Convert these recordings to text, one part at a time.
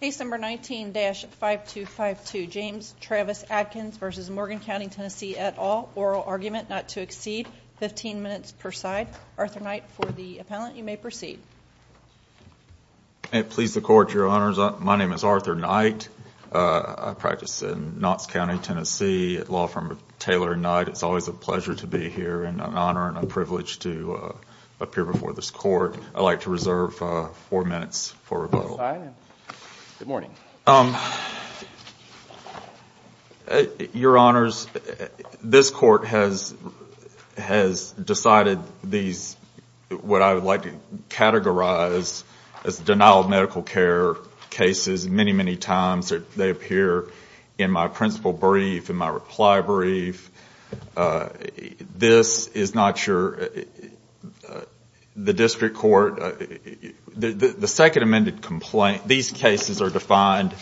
Case number 19-5252. James Travis Adkins v. Morgan County Tennessee et al. Oral argument not to exceed 15 minutes per side. Arthur Knight for the appellant. You may proceed. Please the court, your honors. My name is Arthur Knight. I practice in Knott's County Tennessee at law firm Taylor and Knight. It's always a pleasure to be here and an honor and a privilege to appear before this court. I'd like to reserve four minutes for rebuttal. Your honors, this court has decided what I would like to categorize as denial of medical care cases many, many times. They appear in my principal brief, in my reply brief. This is not your, the district court, the second amended complaint, these cases are defined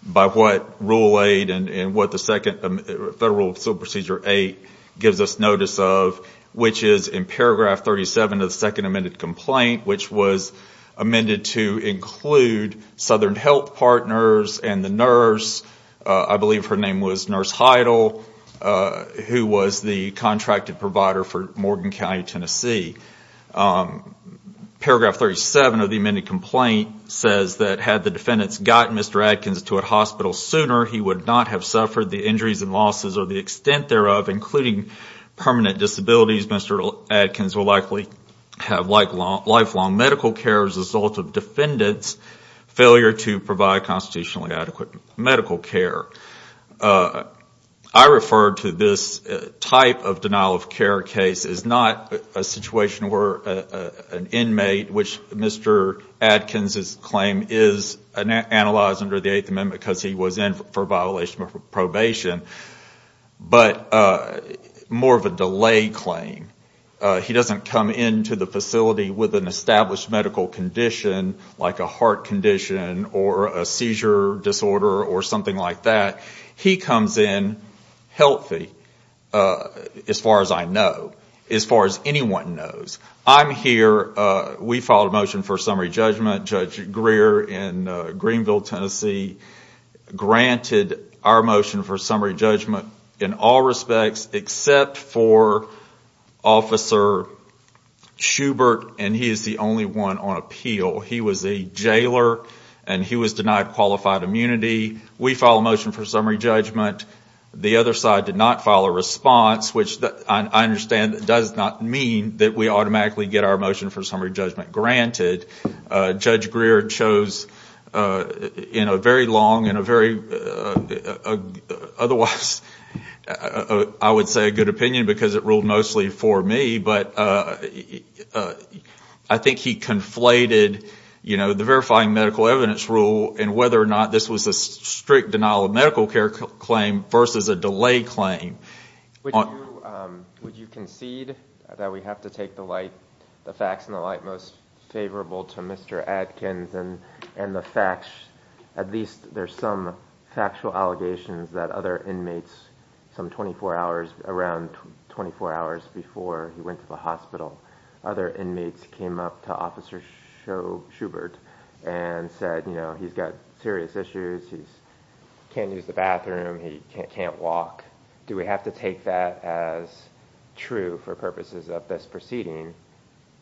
by what rule 8 and what the second, Federal Procedure 8 gives us notice of, which is in paragraph 37 of the second amended complaint, which was amended to include Southern Health Partners and the nurse, I believe her name was Nurse Heidel, who was the contracted provider for Morgan County Tennessee. Paragraph 37 of the amended complaint says that had the defendants gotten Mr. Adkins to a hospital sooner, he would not have suffered the injuries and losses or the extent thereof, including permanent disabilities. Mr. Adkins will likely have lifelong medical care as a result of defendants' failure to provide constitutionally adequate medical care. I refer to this type of denial of care case as not a situation where an inmate, which Mr. Adkins' claim is analyzed under the Eighth Amendment because he was in for violation of probation, but more of a delay claim. He doesn't come into the facility with an established medical condition like a heart condition or a seizure disorder or something like that. He comes in healthy, as far as I know, as far as anyone knows. I'm here, we filed a motion for summary judgment. Judge Greer in Greenville, Tennessee granted our motion for summary judgment in all respects except for Officer Schubert, and he is the only one on appeal. He was a jailer and he was denied qualified immunity. We filed a motion for summary judgment. The other side did not file a response, which I understand does not mean that we automatically get our motion for summary judgment granted. Judge Greer chose in a very long and otherwise I would say a good opinion because it ruled mostly for me, but I think he conflated the verifying medical evidence rule and whether or not this was a strict denial of medical care claim versus a delay claim. Would you concede that we have to take the facts in the light most favorable to Mr. Adkins and the facts, at least there's some factual allegations that other inmates, some 24 hours, around 24 hours before he went to the hospital, other inmates came up to Officer Schubert and said, you know, he's got serious issues, he can't use the bathroom, he can't walk. Do we have to take that as true for purposes of this proceeding?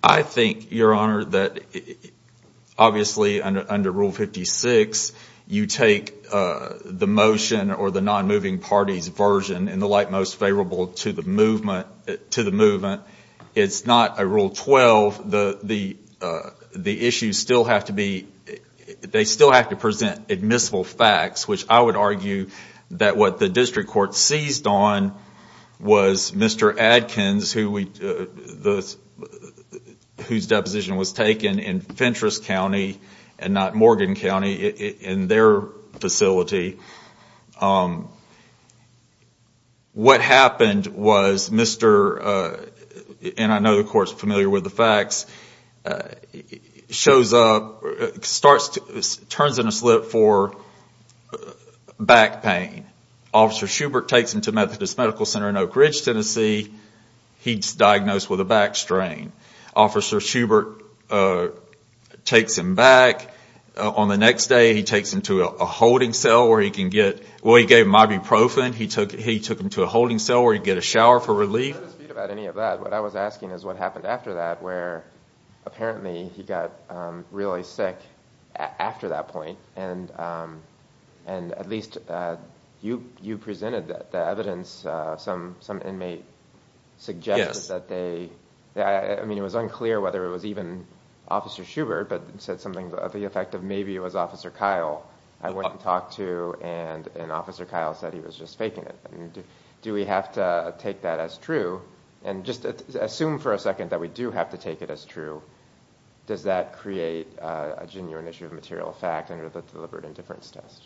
I think, Your Honor, that obviously under Rule 56, you take the motion or the non-moving party's version in the light most favorable to the movement. It's not a Rule 12. The issues still have to be, they still have to present admissible facts, which I would argue that what the District Court seized on was Mr. Adkins, whose deposition was taken in Fentress County and not Morgan County, in their facility. What happened was Mr., and I know the Court's familiar with the facts, turns in a slip for back pain. Officer Schubert takes him to Methodist Medical Center in Oak Ridge, Tennessee. He's diagnosed with a back strain. Officer Schubert takes him back. On the next day, he takes him to a holding cell where he can get, well, he gave him ibuprofen. He took him to a holding cell where he can get a shower for relief. I wasn't confused about any of that. What I was asking is what happened after that where apparently he got really sick after that point. And at least you presented the evidence, some inmate suggested that they, I mean, it was unclear whether it was even Officer Schubert but said something of the effect of maybe it was Officer Kyle. I went to talk to and Officer Kyle said he was just faking it. Do we have to take that as true and just assume for a second that we do have to take it as true, does that create a genuine issue of material fact under the deliberate indifference test?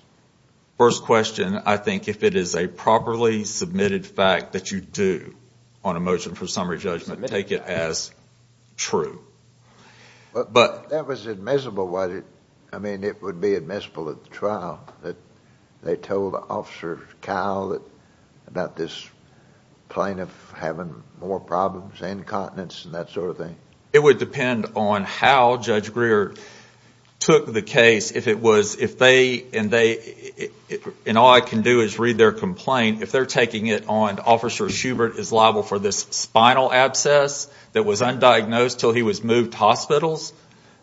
First question, I think if it is a properly submitted fact that you do on a motion for summary judgment, take it as true. That was admissible, was it? I mean, it would be admissible at the trial that they told Officer Kyle about this plaintiff having more problems, incontinence and that sort of thing? It would depend on how Judge Greer took the case. If it was, if they, and all I can do is read their complaint, if they're taking it on Officer Schubert is liable for this moved hospitals,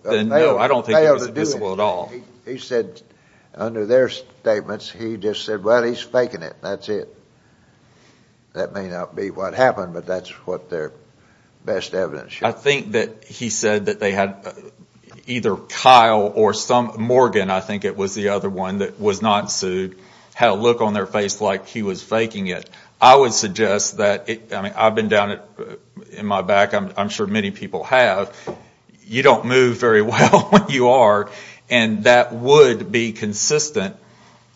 then no, I don't think it was admissible at all. He said, under their statements, he just said, well, he's faking it, that's it. That may not be what happened but that's what their best evidence shows. I think that he said that they had either Kyle or some, Morgan, I think it was the other one that was not sued, had a look on their face like he was faking it. I would suggest I've been down in my back, I'm sure many people have, you don't move very well when you are and that would be consistent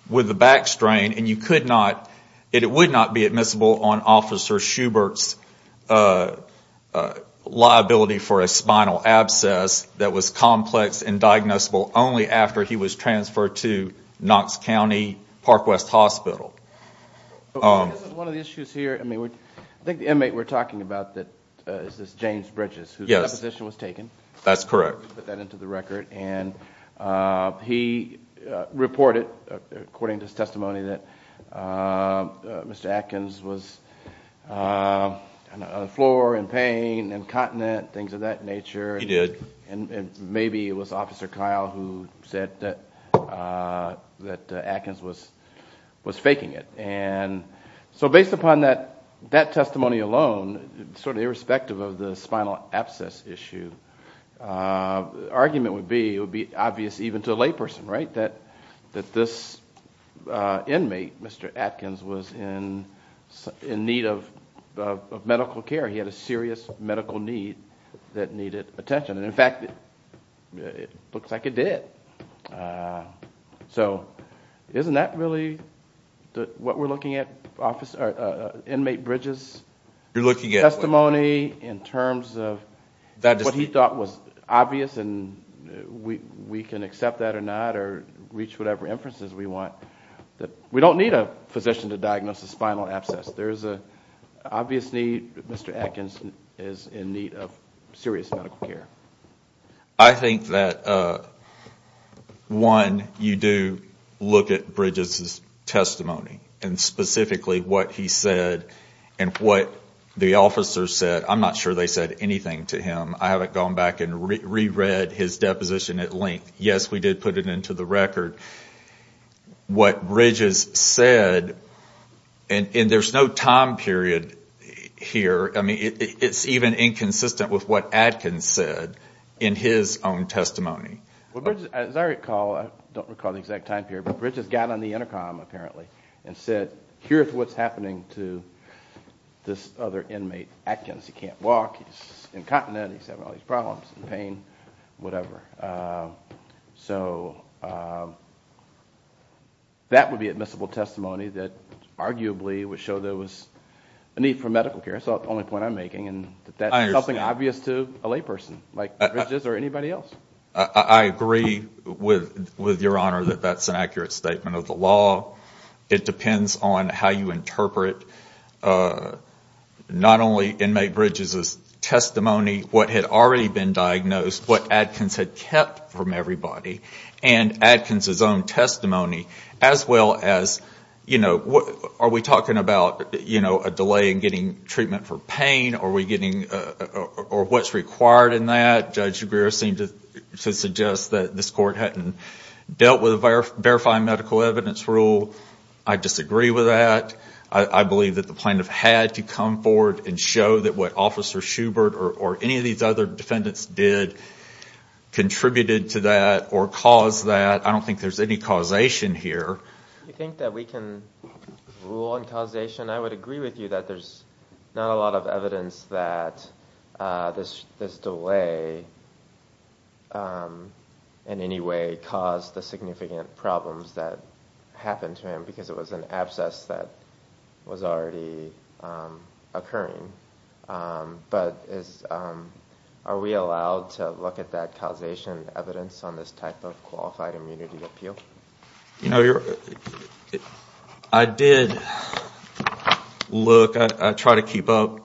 with the back strain and you could not, it would not be admissible on Officer Schubert's liability for a spinal abscess that was complex and diagnosable only after he was transferred to Knox County Parkwest Hospital. One of the issues here, I think the inmate we're talking about is this James Bridges who's deposition was taken. That's correct. Put that into the record and he reported, according to his testimony, that Mr. Atkins was on the floor in pain, incontinent, things of that nature. He did. Maybe it was Officer Kyle who said that Atkins was faking it. Based upon that testimony alone, sort of irrespective of the spinal abscess issue, the argument would be, it would be obvious even to a layperson that this inmate, Mr. Atkins, was in need of medical care. He had a serious medical need that needed attention and in fact, it looks like it did. So isn't that really what we're looking at, Inmate Bridges' testimony in terms of what he thought was obvious and we can accept that or not or reach whatever inferences we want. We don't need a physician to diagnose a spinal abscess. There's an obvious need that Mr. Atkins is in need of serious medical care. I think that one, you do look at Bridges' testimony and specifically what he said and what the officers said. I'm not sure they said anything to him. I haven't gone back and re-read his deposition at length. Yes, we did put it into the record. What Bridges said, and there's no time period here, it's even inconsistent with what Atkins said in his own testimony. As I recall, I don't recall the exact time period, but Bridges got on the intercom apparently and said, here's what's happening to this other inmate Atkins. He can't walk, he's incontinent, he's having all these problems, pain, whatever. So, that would be admissible testimony that arguably would show there was a need for medical care. That's the only point I'm making. I understand. That's something obvious to a layperson like Bridges or anybody else. I agree with your Honor that that's an accurate statement of the law. It depends on how you interpret not only inmate Bridges' testimony, what had already been kept from everybody, and Atkins' own testimony, as well as are we talking about a delay in getting treatment for pain, or what's required in that? Judge Aguirre seemed to suggest that this court hadn't dealt with a verifying medical evidence rule. I disagree with that. I believe that the plaintiff had to come forward and show that what Officer Schubert or any of these other defendants did contributed to that or caused that. I don't think there's any causation here. Do you think that we can rule on causation? I would agree with you that there's not a lot of evidence that this delay in any way caused the significant problems that happened to him because it was an abscess that was already occurring. Are we allowed to look at that causation evidence on this type of qualified immunity appeal? I did look, I tried to keep up.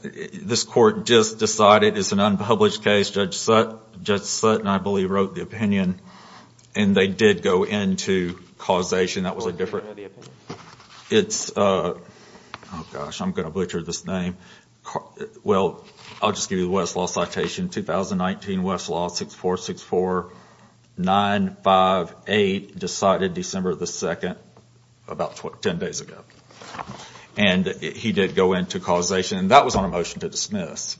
This court just decided it's an unpublished case. Judge Sutton, I believe, wrote the opinion and they did go into causation. Oh gosh, I'm going to butcher this name. Well, I'll just give you the Westlaw citation, 2019 Westlaw 6464958 decided December 2nd, about 10 days ago. He did go into causation and that was on a motion to dismiss,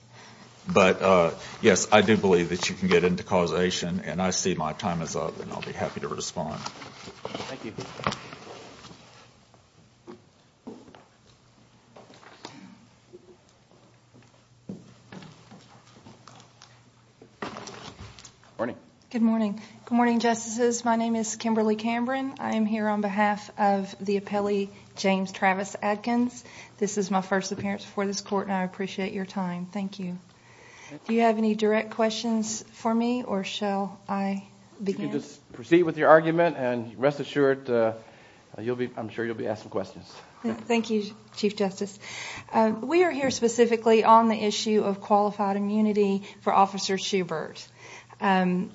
but yes, I do believe that you can get into causation and I see my time is up and I'll be happy to respond. Thank you. Good morning. Good morning. Good morning, Justices. My name is Kimberly Cameron. I am here on behalf of the appellee, James Travis Adkins. This is my first appearance before this court and I appreciate your time. Thank you. Do you have any direct questions for me or shall I begin? Just proceed with your argument and rest assured, I'm sure you'll be asked some questions. Thank you, Chief Justice. We are here specifically on the issue of qualified immunity for Officer Schubert and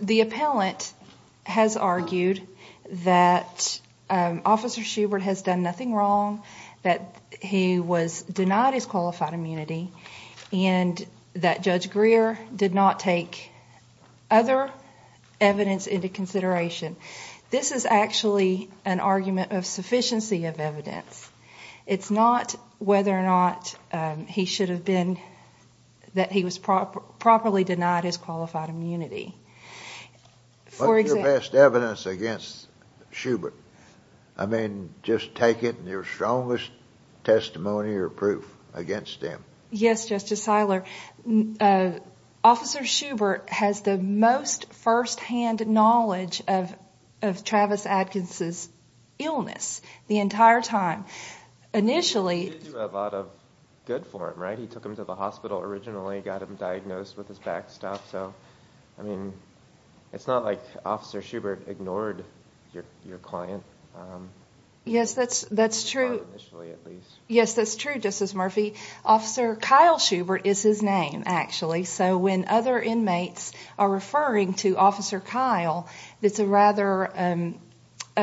the appellant has argued that Officer Schubert has done nothing wrong, that he was denied his qualified other evidence into consideration. This is actually an argument of sufficiency of evidence. It's not whether or not he should have been, that he was properly denied his qualified immunity. What's your best evidence against Schubert? I mean, just take it and your strongest testimony or proof against him. Yes, Justice Siler. Officer Schubert has the most first-hand knowledge of Travis Adkins' illness the entire time. Initially... He did do a lot of good for him, right? He took him to the hospital originally, got him diagnosed with his back stuff. So, I mean, it's not like Officer Schubert ignored your client. Yes, that's true. Initially, at least. Yes, that's true, Justice Murphy. Actually, Officer Kyle Schubert is his name, actually. So, when other inmates are referring to Officer Kyle, it's a rather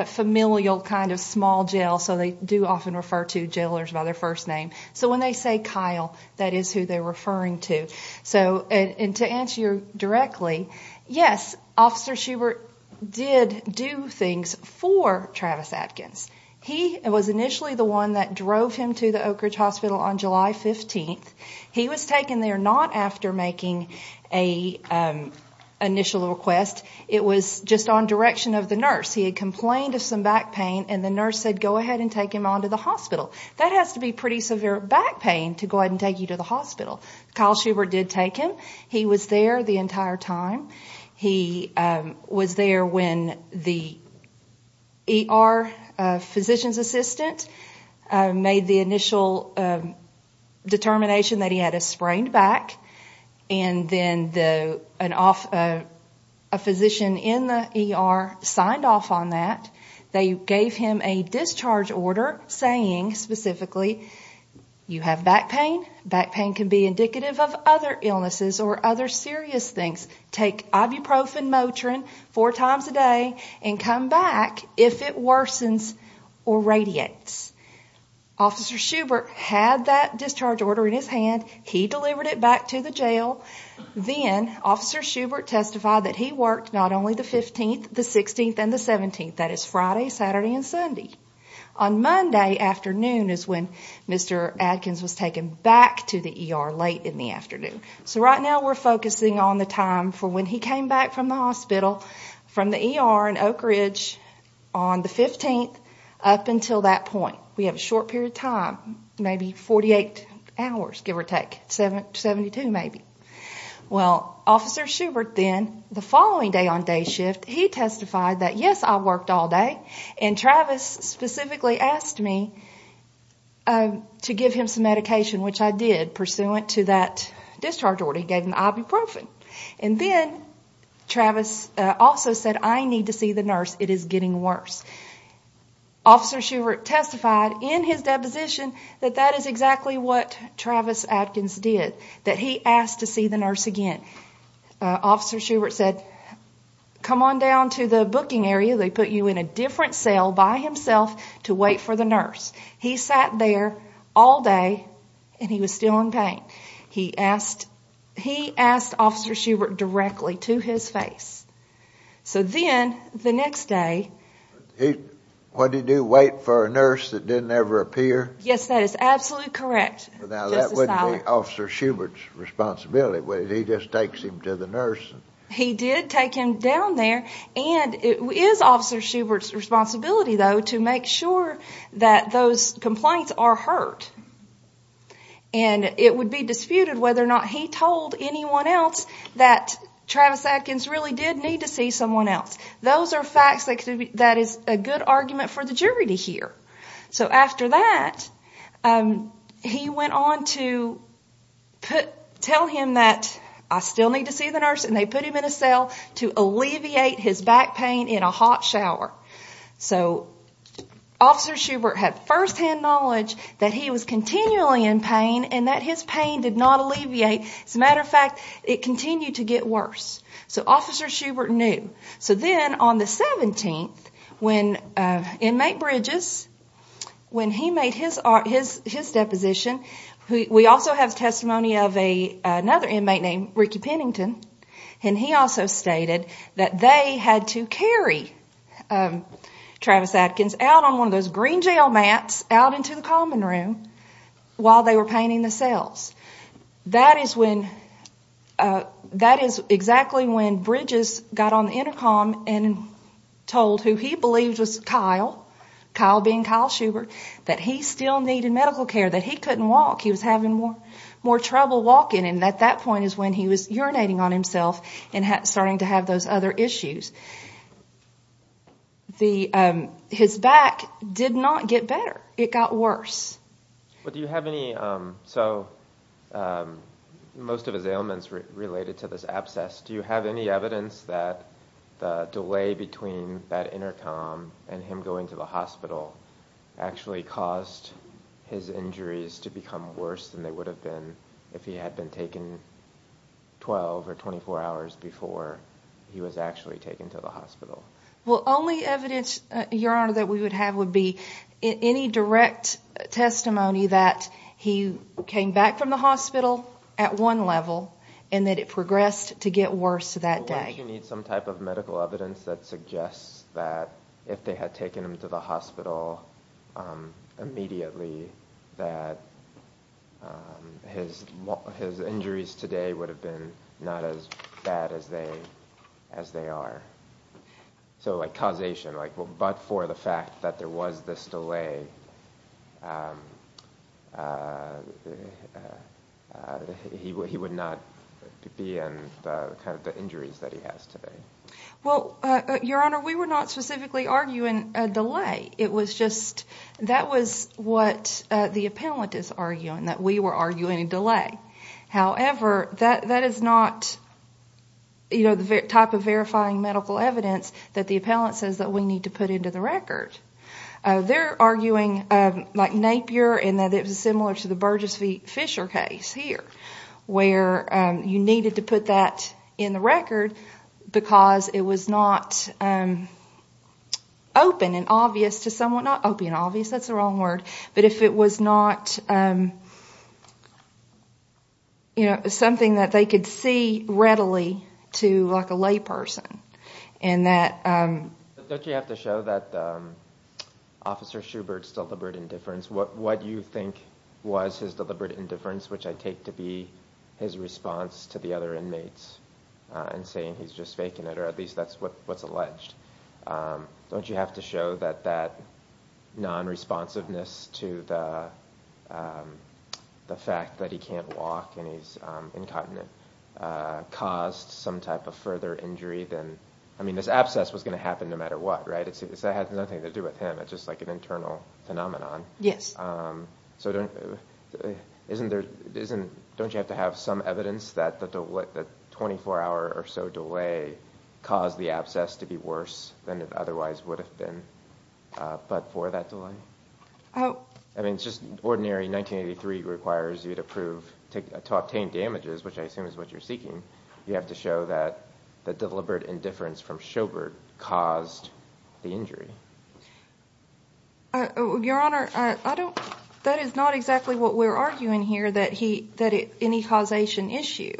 familial kind of small jail, so they do often refer to jailors by their first name. So, when they say Kyle, that is who they're referring to. To answer you directly, yes, Officer Schubert did do things for Travis Adkins. He was initially the one that drove him to the Oak Ridge Hospital on July 15th. He was taken there not after making an initial request. It was just on direction of the nurse. He had complained of some back pain, and the nurse said, go ahead and take him on to the hospital. That has to be pretty severe back pain to go ahead and take you to the hospital. Kyle Schubert did take him. He was there the entire time. He was there when the ER physician's assistant made the initial determination that he had a sprained back, and then a physician in the ER signed off on that. They gave him a discharge order saying, specifically, you have back pain. Back pain can be indicative of other illnesses or other serious things. Take ibuprofen Motrin four times a day and come back if it worsens or radiates. Officer Schubert had that discharge order in his hand. He delivered it back to the jail. Then Officer Schubert testified that he worked not only the 15th, the 16th, and the 17th. That is Friday, Saturday, and Sunday. On Monday afternoon is when Mr. Adkins was taken back to the ER late in the afternoon. So right now we're focusing on the time for when he came back from the hospital, from the ER in Oak Ridge on the 15th up until that point. We have a short period of time, maybe 48 hours, give or take, 72 maybe. Well, Officer Schubert then, the following day on day shift, he testified that, yes, I worked all day, and Travis specifically asked me to give him some medication, which I did, pursuant to that discharge order. He gave him the ibuprofen. Then Travis also said, I need to see the nurse. It is getting worse. Officer Schubert testified in his deposition that that is exactly what Travis Adkins did, that he asked to see the nurse again. Officer Schubert said, come on down to the booking area. They put you in a different cell by himself to wait for the nurse. He sat there all day, and he was still in pain. He asked Officer Schubert directly to his face. So then the next day. What did he do, wait for a nurse that didn't ever appear? Yes, that is absolutely correct. Now that wouldn't be Officer Schubert's responsibility, would it? He just takes him to the nurse. He did take him down there. It is Officer Schubert's responsibility, though, to make sure that those complaints are heard. It would be disputed whether or not he told anyone else that Travis Adkins really did need to see someone else. Those are facts that is a good argument for the jury to hear. After that, he went on to tell him that I still need to see the nurse, and they put him in a cell to alleviate his back pain in a hot shower. So Officer Schubert had firsthand knowledge that he was continually in pain and that his pain did not alleviate. As a matter of fact, it continued to get worse. So Officer Schubert knew. Then on the 17th, when inmate Bridges, when he made his deposition, we also have testimony of another inmate named Ricky Pennington, and he also stated that they had to carry Travis Adkins out on one of those green jail mats out into the common room while they were painting the cells. That is exactly when Bridges got on the intercom and told who he believed was Kyle, Kyle being Kyle Schubert, that he still needed medical care, that he couldn't walk. He was having more trouble walking, and at that point is when he was urinating on himself and starting to have those other issues. His back did not get better. It got worse. So most of his ailments related to this abscess, do you have any evidence that the delay between that intercom and him going to the hospital actually caused his injuries to become worse than they would have been if he had been taken 12 or 24 hours before he was actually taken to the hospital? Only evidence, Your Honor, that we would have would be any direct testimony that he came back from the hospital at one level and that it progressed to get worse that day. Why don't you need some type of medical evidence that suggests that if they had taken him to the hospital immediately that his injuries today would have been not as bad as they are? So like causation, like but for the fact that there was this delay, he would not be in the injuries that he has today. Well, Your Honor, we were not specifically arguing a delay. It was just that was what the appellant is arguing, that we were arguing a delay. However, that is not the type of verifying medical evidence that the appellant says that we need to put into the record. They're arguing like Napier and that it was similar to the Burgess Fisher case here where you needed to put that in the record because it was not open and obvious to someone. Not open and obvious, that's the wrong word, but if it was not something that they could see readily to like a lay person. Don't you have to show that Officer Schubert's deliberate indifference, what you think was his deliberate indifference, which I take to be his response to the other inmates and saying he's just faking it or at least that's what's alleged. Don't you have to show that that non-responsiveness to the fact that he can't walk and he's incontinent caused some type of further injury? I mean this abscess was going to happen no matter what, right? It had nothing to do with him, it's just like an internal phenomenon. Yes. So don't you have to have some evidence that the 24-hour or so delay caused the abscess to be worse than it otherwise would have been but for that delay? Oh. I mean it's just ordinary 1983 requires you to obtain damages, which I assume is what you're seeking. You have to show that the deliberate indifference from Schubert caused the injury. Your Honor, that is not exactly what we're arguing here, that any causation issue.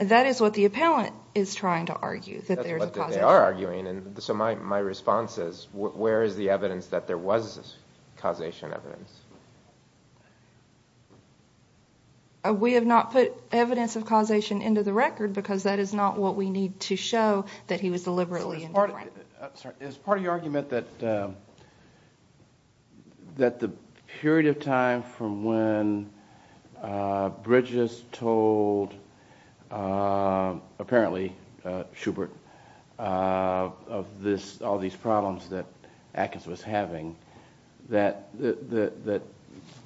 That is what the appellant is trying to argue, that there's a causation issue. That's what they are arguing. So my response is where is the evidence that there was causation evidence? We have not put evidence of causation into the record because that is not what we need to show that he was deliberately indifferent. Is part of your argument that the period of time from when Bridges told, apparently Schubert, of all these problems that Atkins was having, that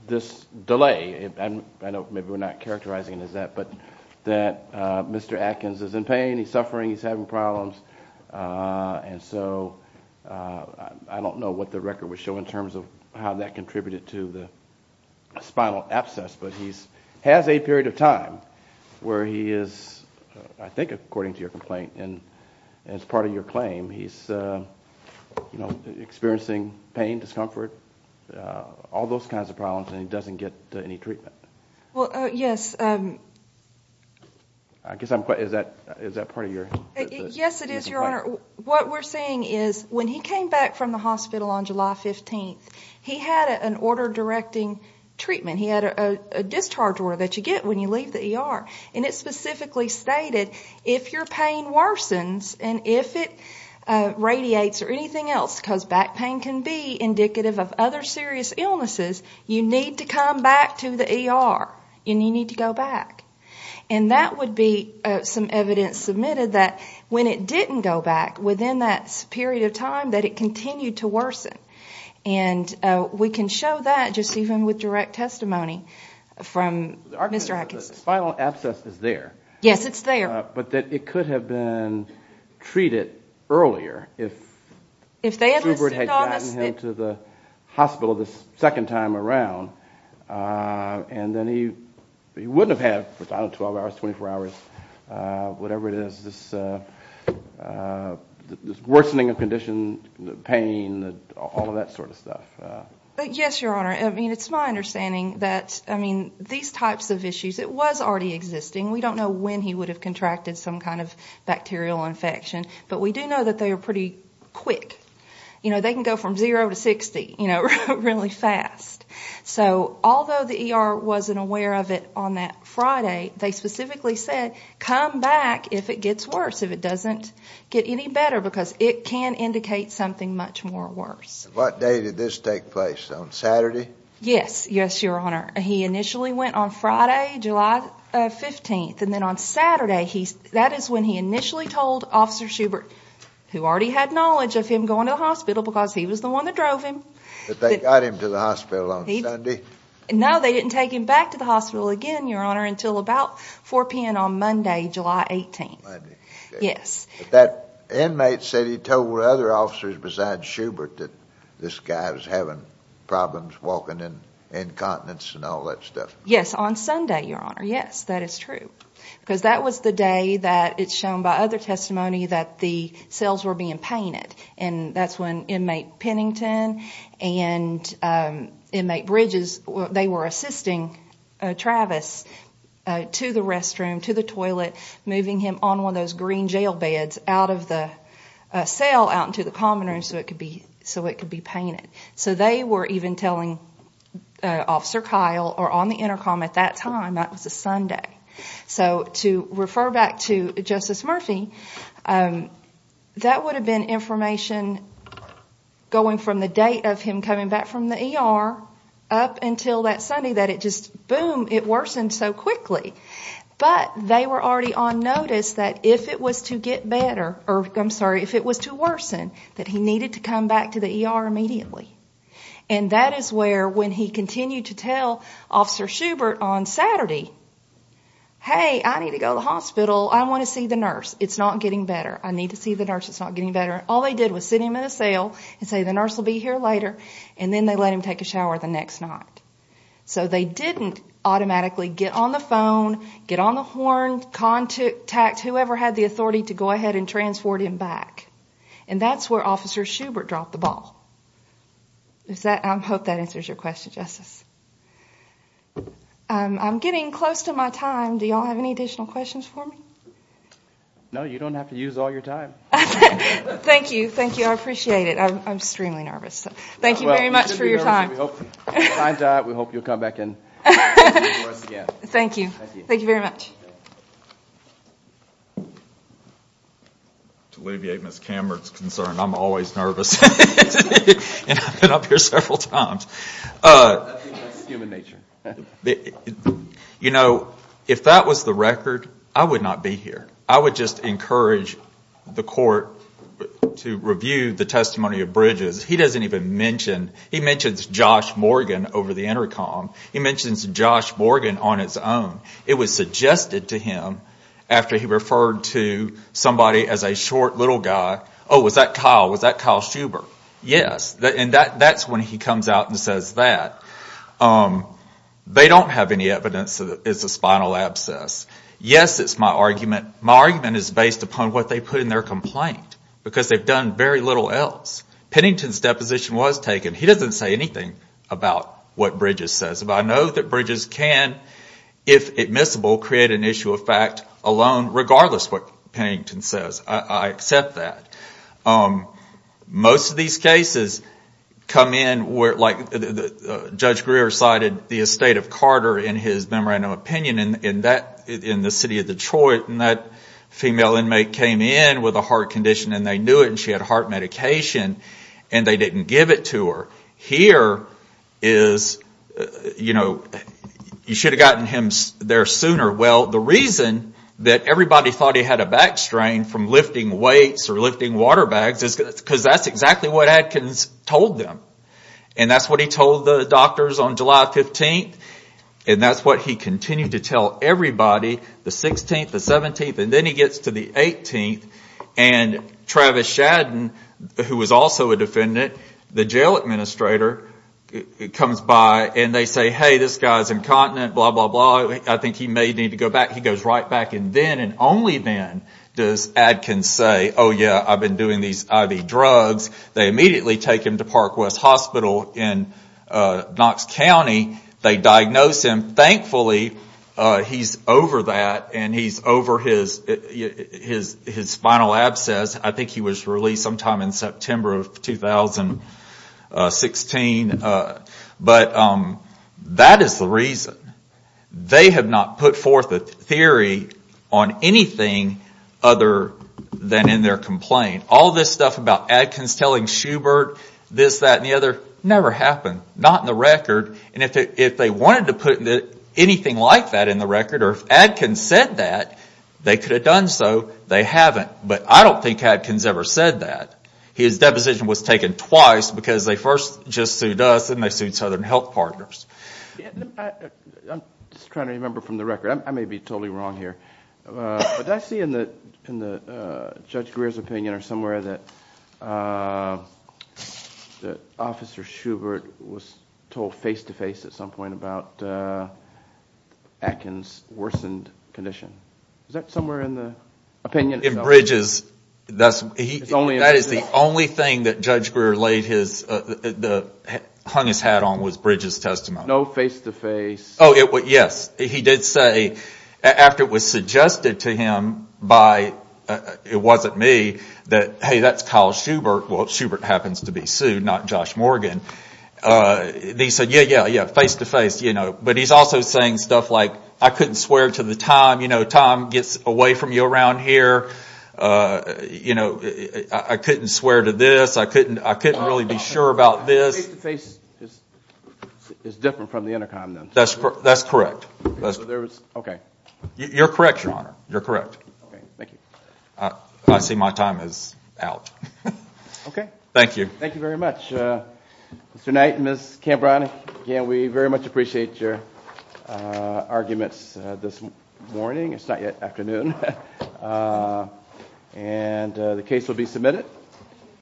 this delay, I know maybe we're not characterizing it as that, but that Mr. Atkins is in pain, he's suffering, he's having problems, and so I don't know what the record would show in terms of how that contributed to the spinal abscess, but he has a period of time where he is, I think according to your complaint and as part of your claim, he's experiencing pain, discomfort, all those kinds of problems and he doesn't get any treatment. Well, yes. Is that part of your complaint? Yes, it is, Your Honor. What we're saying is when he came back from the hospital on July 15th, he had an order directing treatment. He had a discharge order that you get when you leave the ER, and it specifically stated if your pain worsens and if it radiates or anything else, because back pain can be indicative of other serious illnesses, you need to come back to the ER and you need to go back. And that would be some evidence submitted that when it didn't go back, within that period of time, that it continued to worsen. And we can show that just even with direct testimony from Mr. Atkins. The spinal abscess is there. Yes, it's there. But that it could have been treated earlier if Schubert had gotten him to the hospital the second time around, and then he wouldn't have had 12 hours, 24 hours, whatever it is, this worsening of condition, pain, all of that sort of stuff. Yes, Your Honor. It's my understanding that these types of issues, it was already existing. We don't know when he would have contracted some kind of bacterial infection, but we do know that they are pretty quick. They can go from zero to 60 really fast. So although the ER wasn't aware of it on that Friday, they specifically said come back if it gets worse, if it doesn't get any better, because it can indicate something much more worse. What day did this take place, on Saturday? Yes, yes, Your Honor. He initially went on Friday, July 15th, and then on Saturday, that is when he initially told Officer Schubert, who already had knowledge of him going to the hospital because he was the one that drove him. But they got him to the hospital on Sunday. No, they didn't take him back to the hospital again, Your Honor, until about 4 p.m. on Monday, July 18th. Monday. Yes. But that inmate said he told other officers besides Schubert that this guy was having problems walking incontinence and all that stuff. Yes, on Sunday, Your Honor. Yes, that is true. Because that was the day that it's shown by other testimony that the cells were being painted, and that's when Inmate Pennington and Inmate Bridges, they were assisting Travis to the restroom, to the toilet, moving him on one of those green jail beds out of the cell, out into the common room, so it could be painted. So they were even telling Officer Kyle, or on the intercom at that time, that was a Sunday. So to refer back to Justice Murphy, that would have been information going from the date of him coming back from the ER up until that Sunday that it just, boom, it worsened so quickly. But they were already on notice that if it was to get better, or I'm sorry, if it was to worsen, that he needed to come back to the ER immediately. And that is where, when he continued to tell Officer Schubert on Saturday, hey, I need to go to the hospital. I want to see the nurse. It's not getting better. I need to see the nurse. It's not getting better. All they did was sit him in a cell and say the nurse will be here later, and then they let him take a shower the next night. So they didn't automatically get on the phone, get on the horn, contact whoever had the authority to go ahead and transport him back. And that's where Officer Schubert dropped the ball. I hope that answers your question, Justice. I'm getting close to my time. Do you all have any additional questions for me? No, you don't have to use all your time. Thank you. Thank you. I appreciate it. I'm extremely nervous. Thank you very much for your time. We hope you'll come back and speak to us again. Thank you. Thank you very much. To alleviate Ms. Cameron's concern, I'm always nervous. And I've been up here several times. That's human nature. You know, if that was the record, I would not be here. I would just encourage the court to review the testimony of Bridges. He doesn't even mention, he mentions Josh Morgan over the intercom. He mentions Josh Morgan on his own. It was suggested to him after he referred to somebody as a short little guy. Oh, was that Kyle? Was that Kyle Schubert? Yes. And that's when he comes out and says that. They don't have any evidence that it's a spinal abscess. Yes, it's my argument. My argument is based upon what they put in their complaint. Because they've done very little else. Pennington's deposition was taken. He doesn't say anything about what Bridges says. But I know that Bridges can, if admissible, create an issue of fact alone, regardless of what Pennington says. I accept that. Most of these cases come in like Judge Greer cited the estate of Carter in his memorandum of opinion in the city of Detroit. And that female inmate came in with a heart condition. And they knew it. And she had heart medication. And they didn't give it to her. Here is, you know, you should have gotten him there sooner. Well, the reason that everybody thought he had a back strain from lifting weights or lifting water bags is because that's exactly what Adkins told them. And that's what he told the doctors on July 15th. And that's what he continued to tell everybody the 16th, the 17th. And then he gets to the 18th. And Travis Shadden, who was also a defendant, the jail administrator, comes by and they say, hey, this guy's incontinent, blah, blah, blah. I think he may need to go back. He goes right back. And then and only then does Adkins say, oh, yeah, I've been doing these IV drugs. They immediately take him to Park West Hospital in Knox County. They diagnose him. Thankfully, he's over that and he's over his spinal abscess. I think he was released sometime in September of 2016. But that is the reason. They have not put forth a theory on anything other than in their complaint. All this stuff about Adkins telling Schubert, this, that, and the other, never happened, not in the record. And if they wanted to put anything like that in the record, or if Adkins said that, they could have done so. They haven't. But I don't think Adkins ever said that. His deposition was taken twice because they first just sued us and they sued Southern Health Partners. I'm just trying to remember from the record. I may be totally wrong here. But I see in Judge Greer's opinion or somewhere that Officer Schubert was told face-to-face at some point about Adkins' worsened condition. Is that somewhere in the opinion? In Bridges, that is the only thing that Judge Greer hung his hat on was Bridges' testimony. No face-to-face? Oh, yes. He did say, after it was suggested to him by, it wasn't me, that, hey, that's Kyle Schubert. Well, Schubert happens to be sued, not Josh Morgan. He said, yeah, yeah, face-to-face. But he's also saying stuff like, I couldn't swear to the time. You know, time gets away from you around here. I couldn't swear to this. I couldn't really be sure about this. Face-to-face is different from the intercom, then. That's correct. You're correct, Your Honor. You're correct. Thank you. I see my time is out. Okay. Thank you. Thank you very much. Mr. Knight and Ms. Cambron, again, we very much appreciate your arguments this morning. It's not yet afternoon. And the case will be submitted.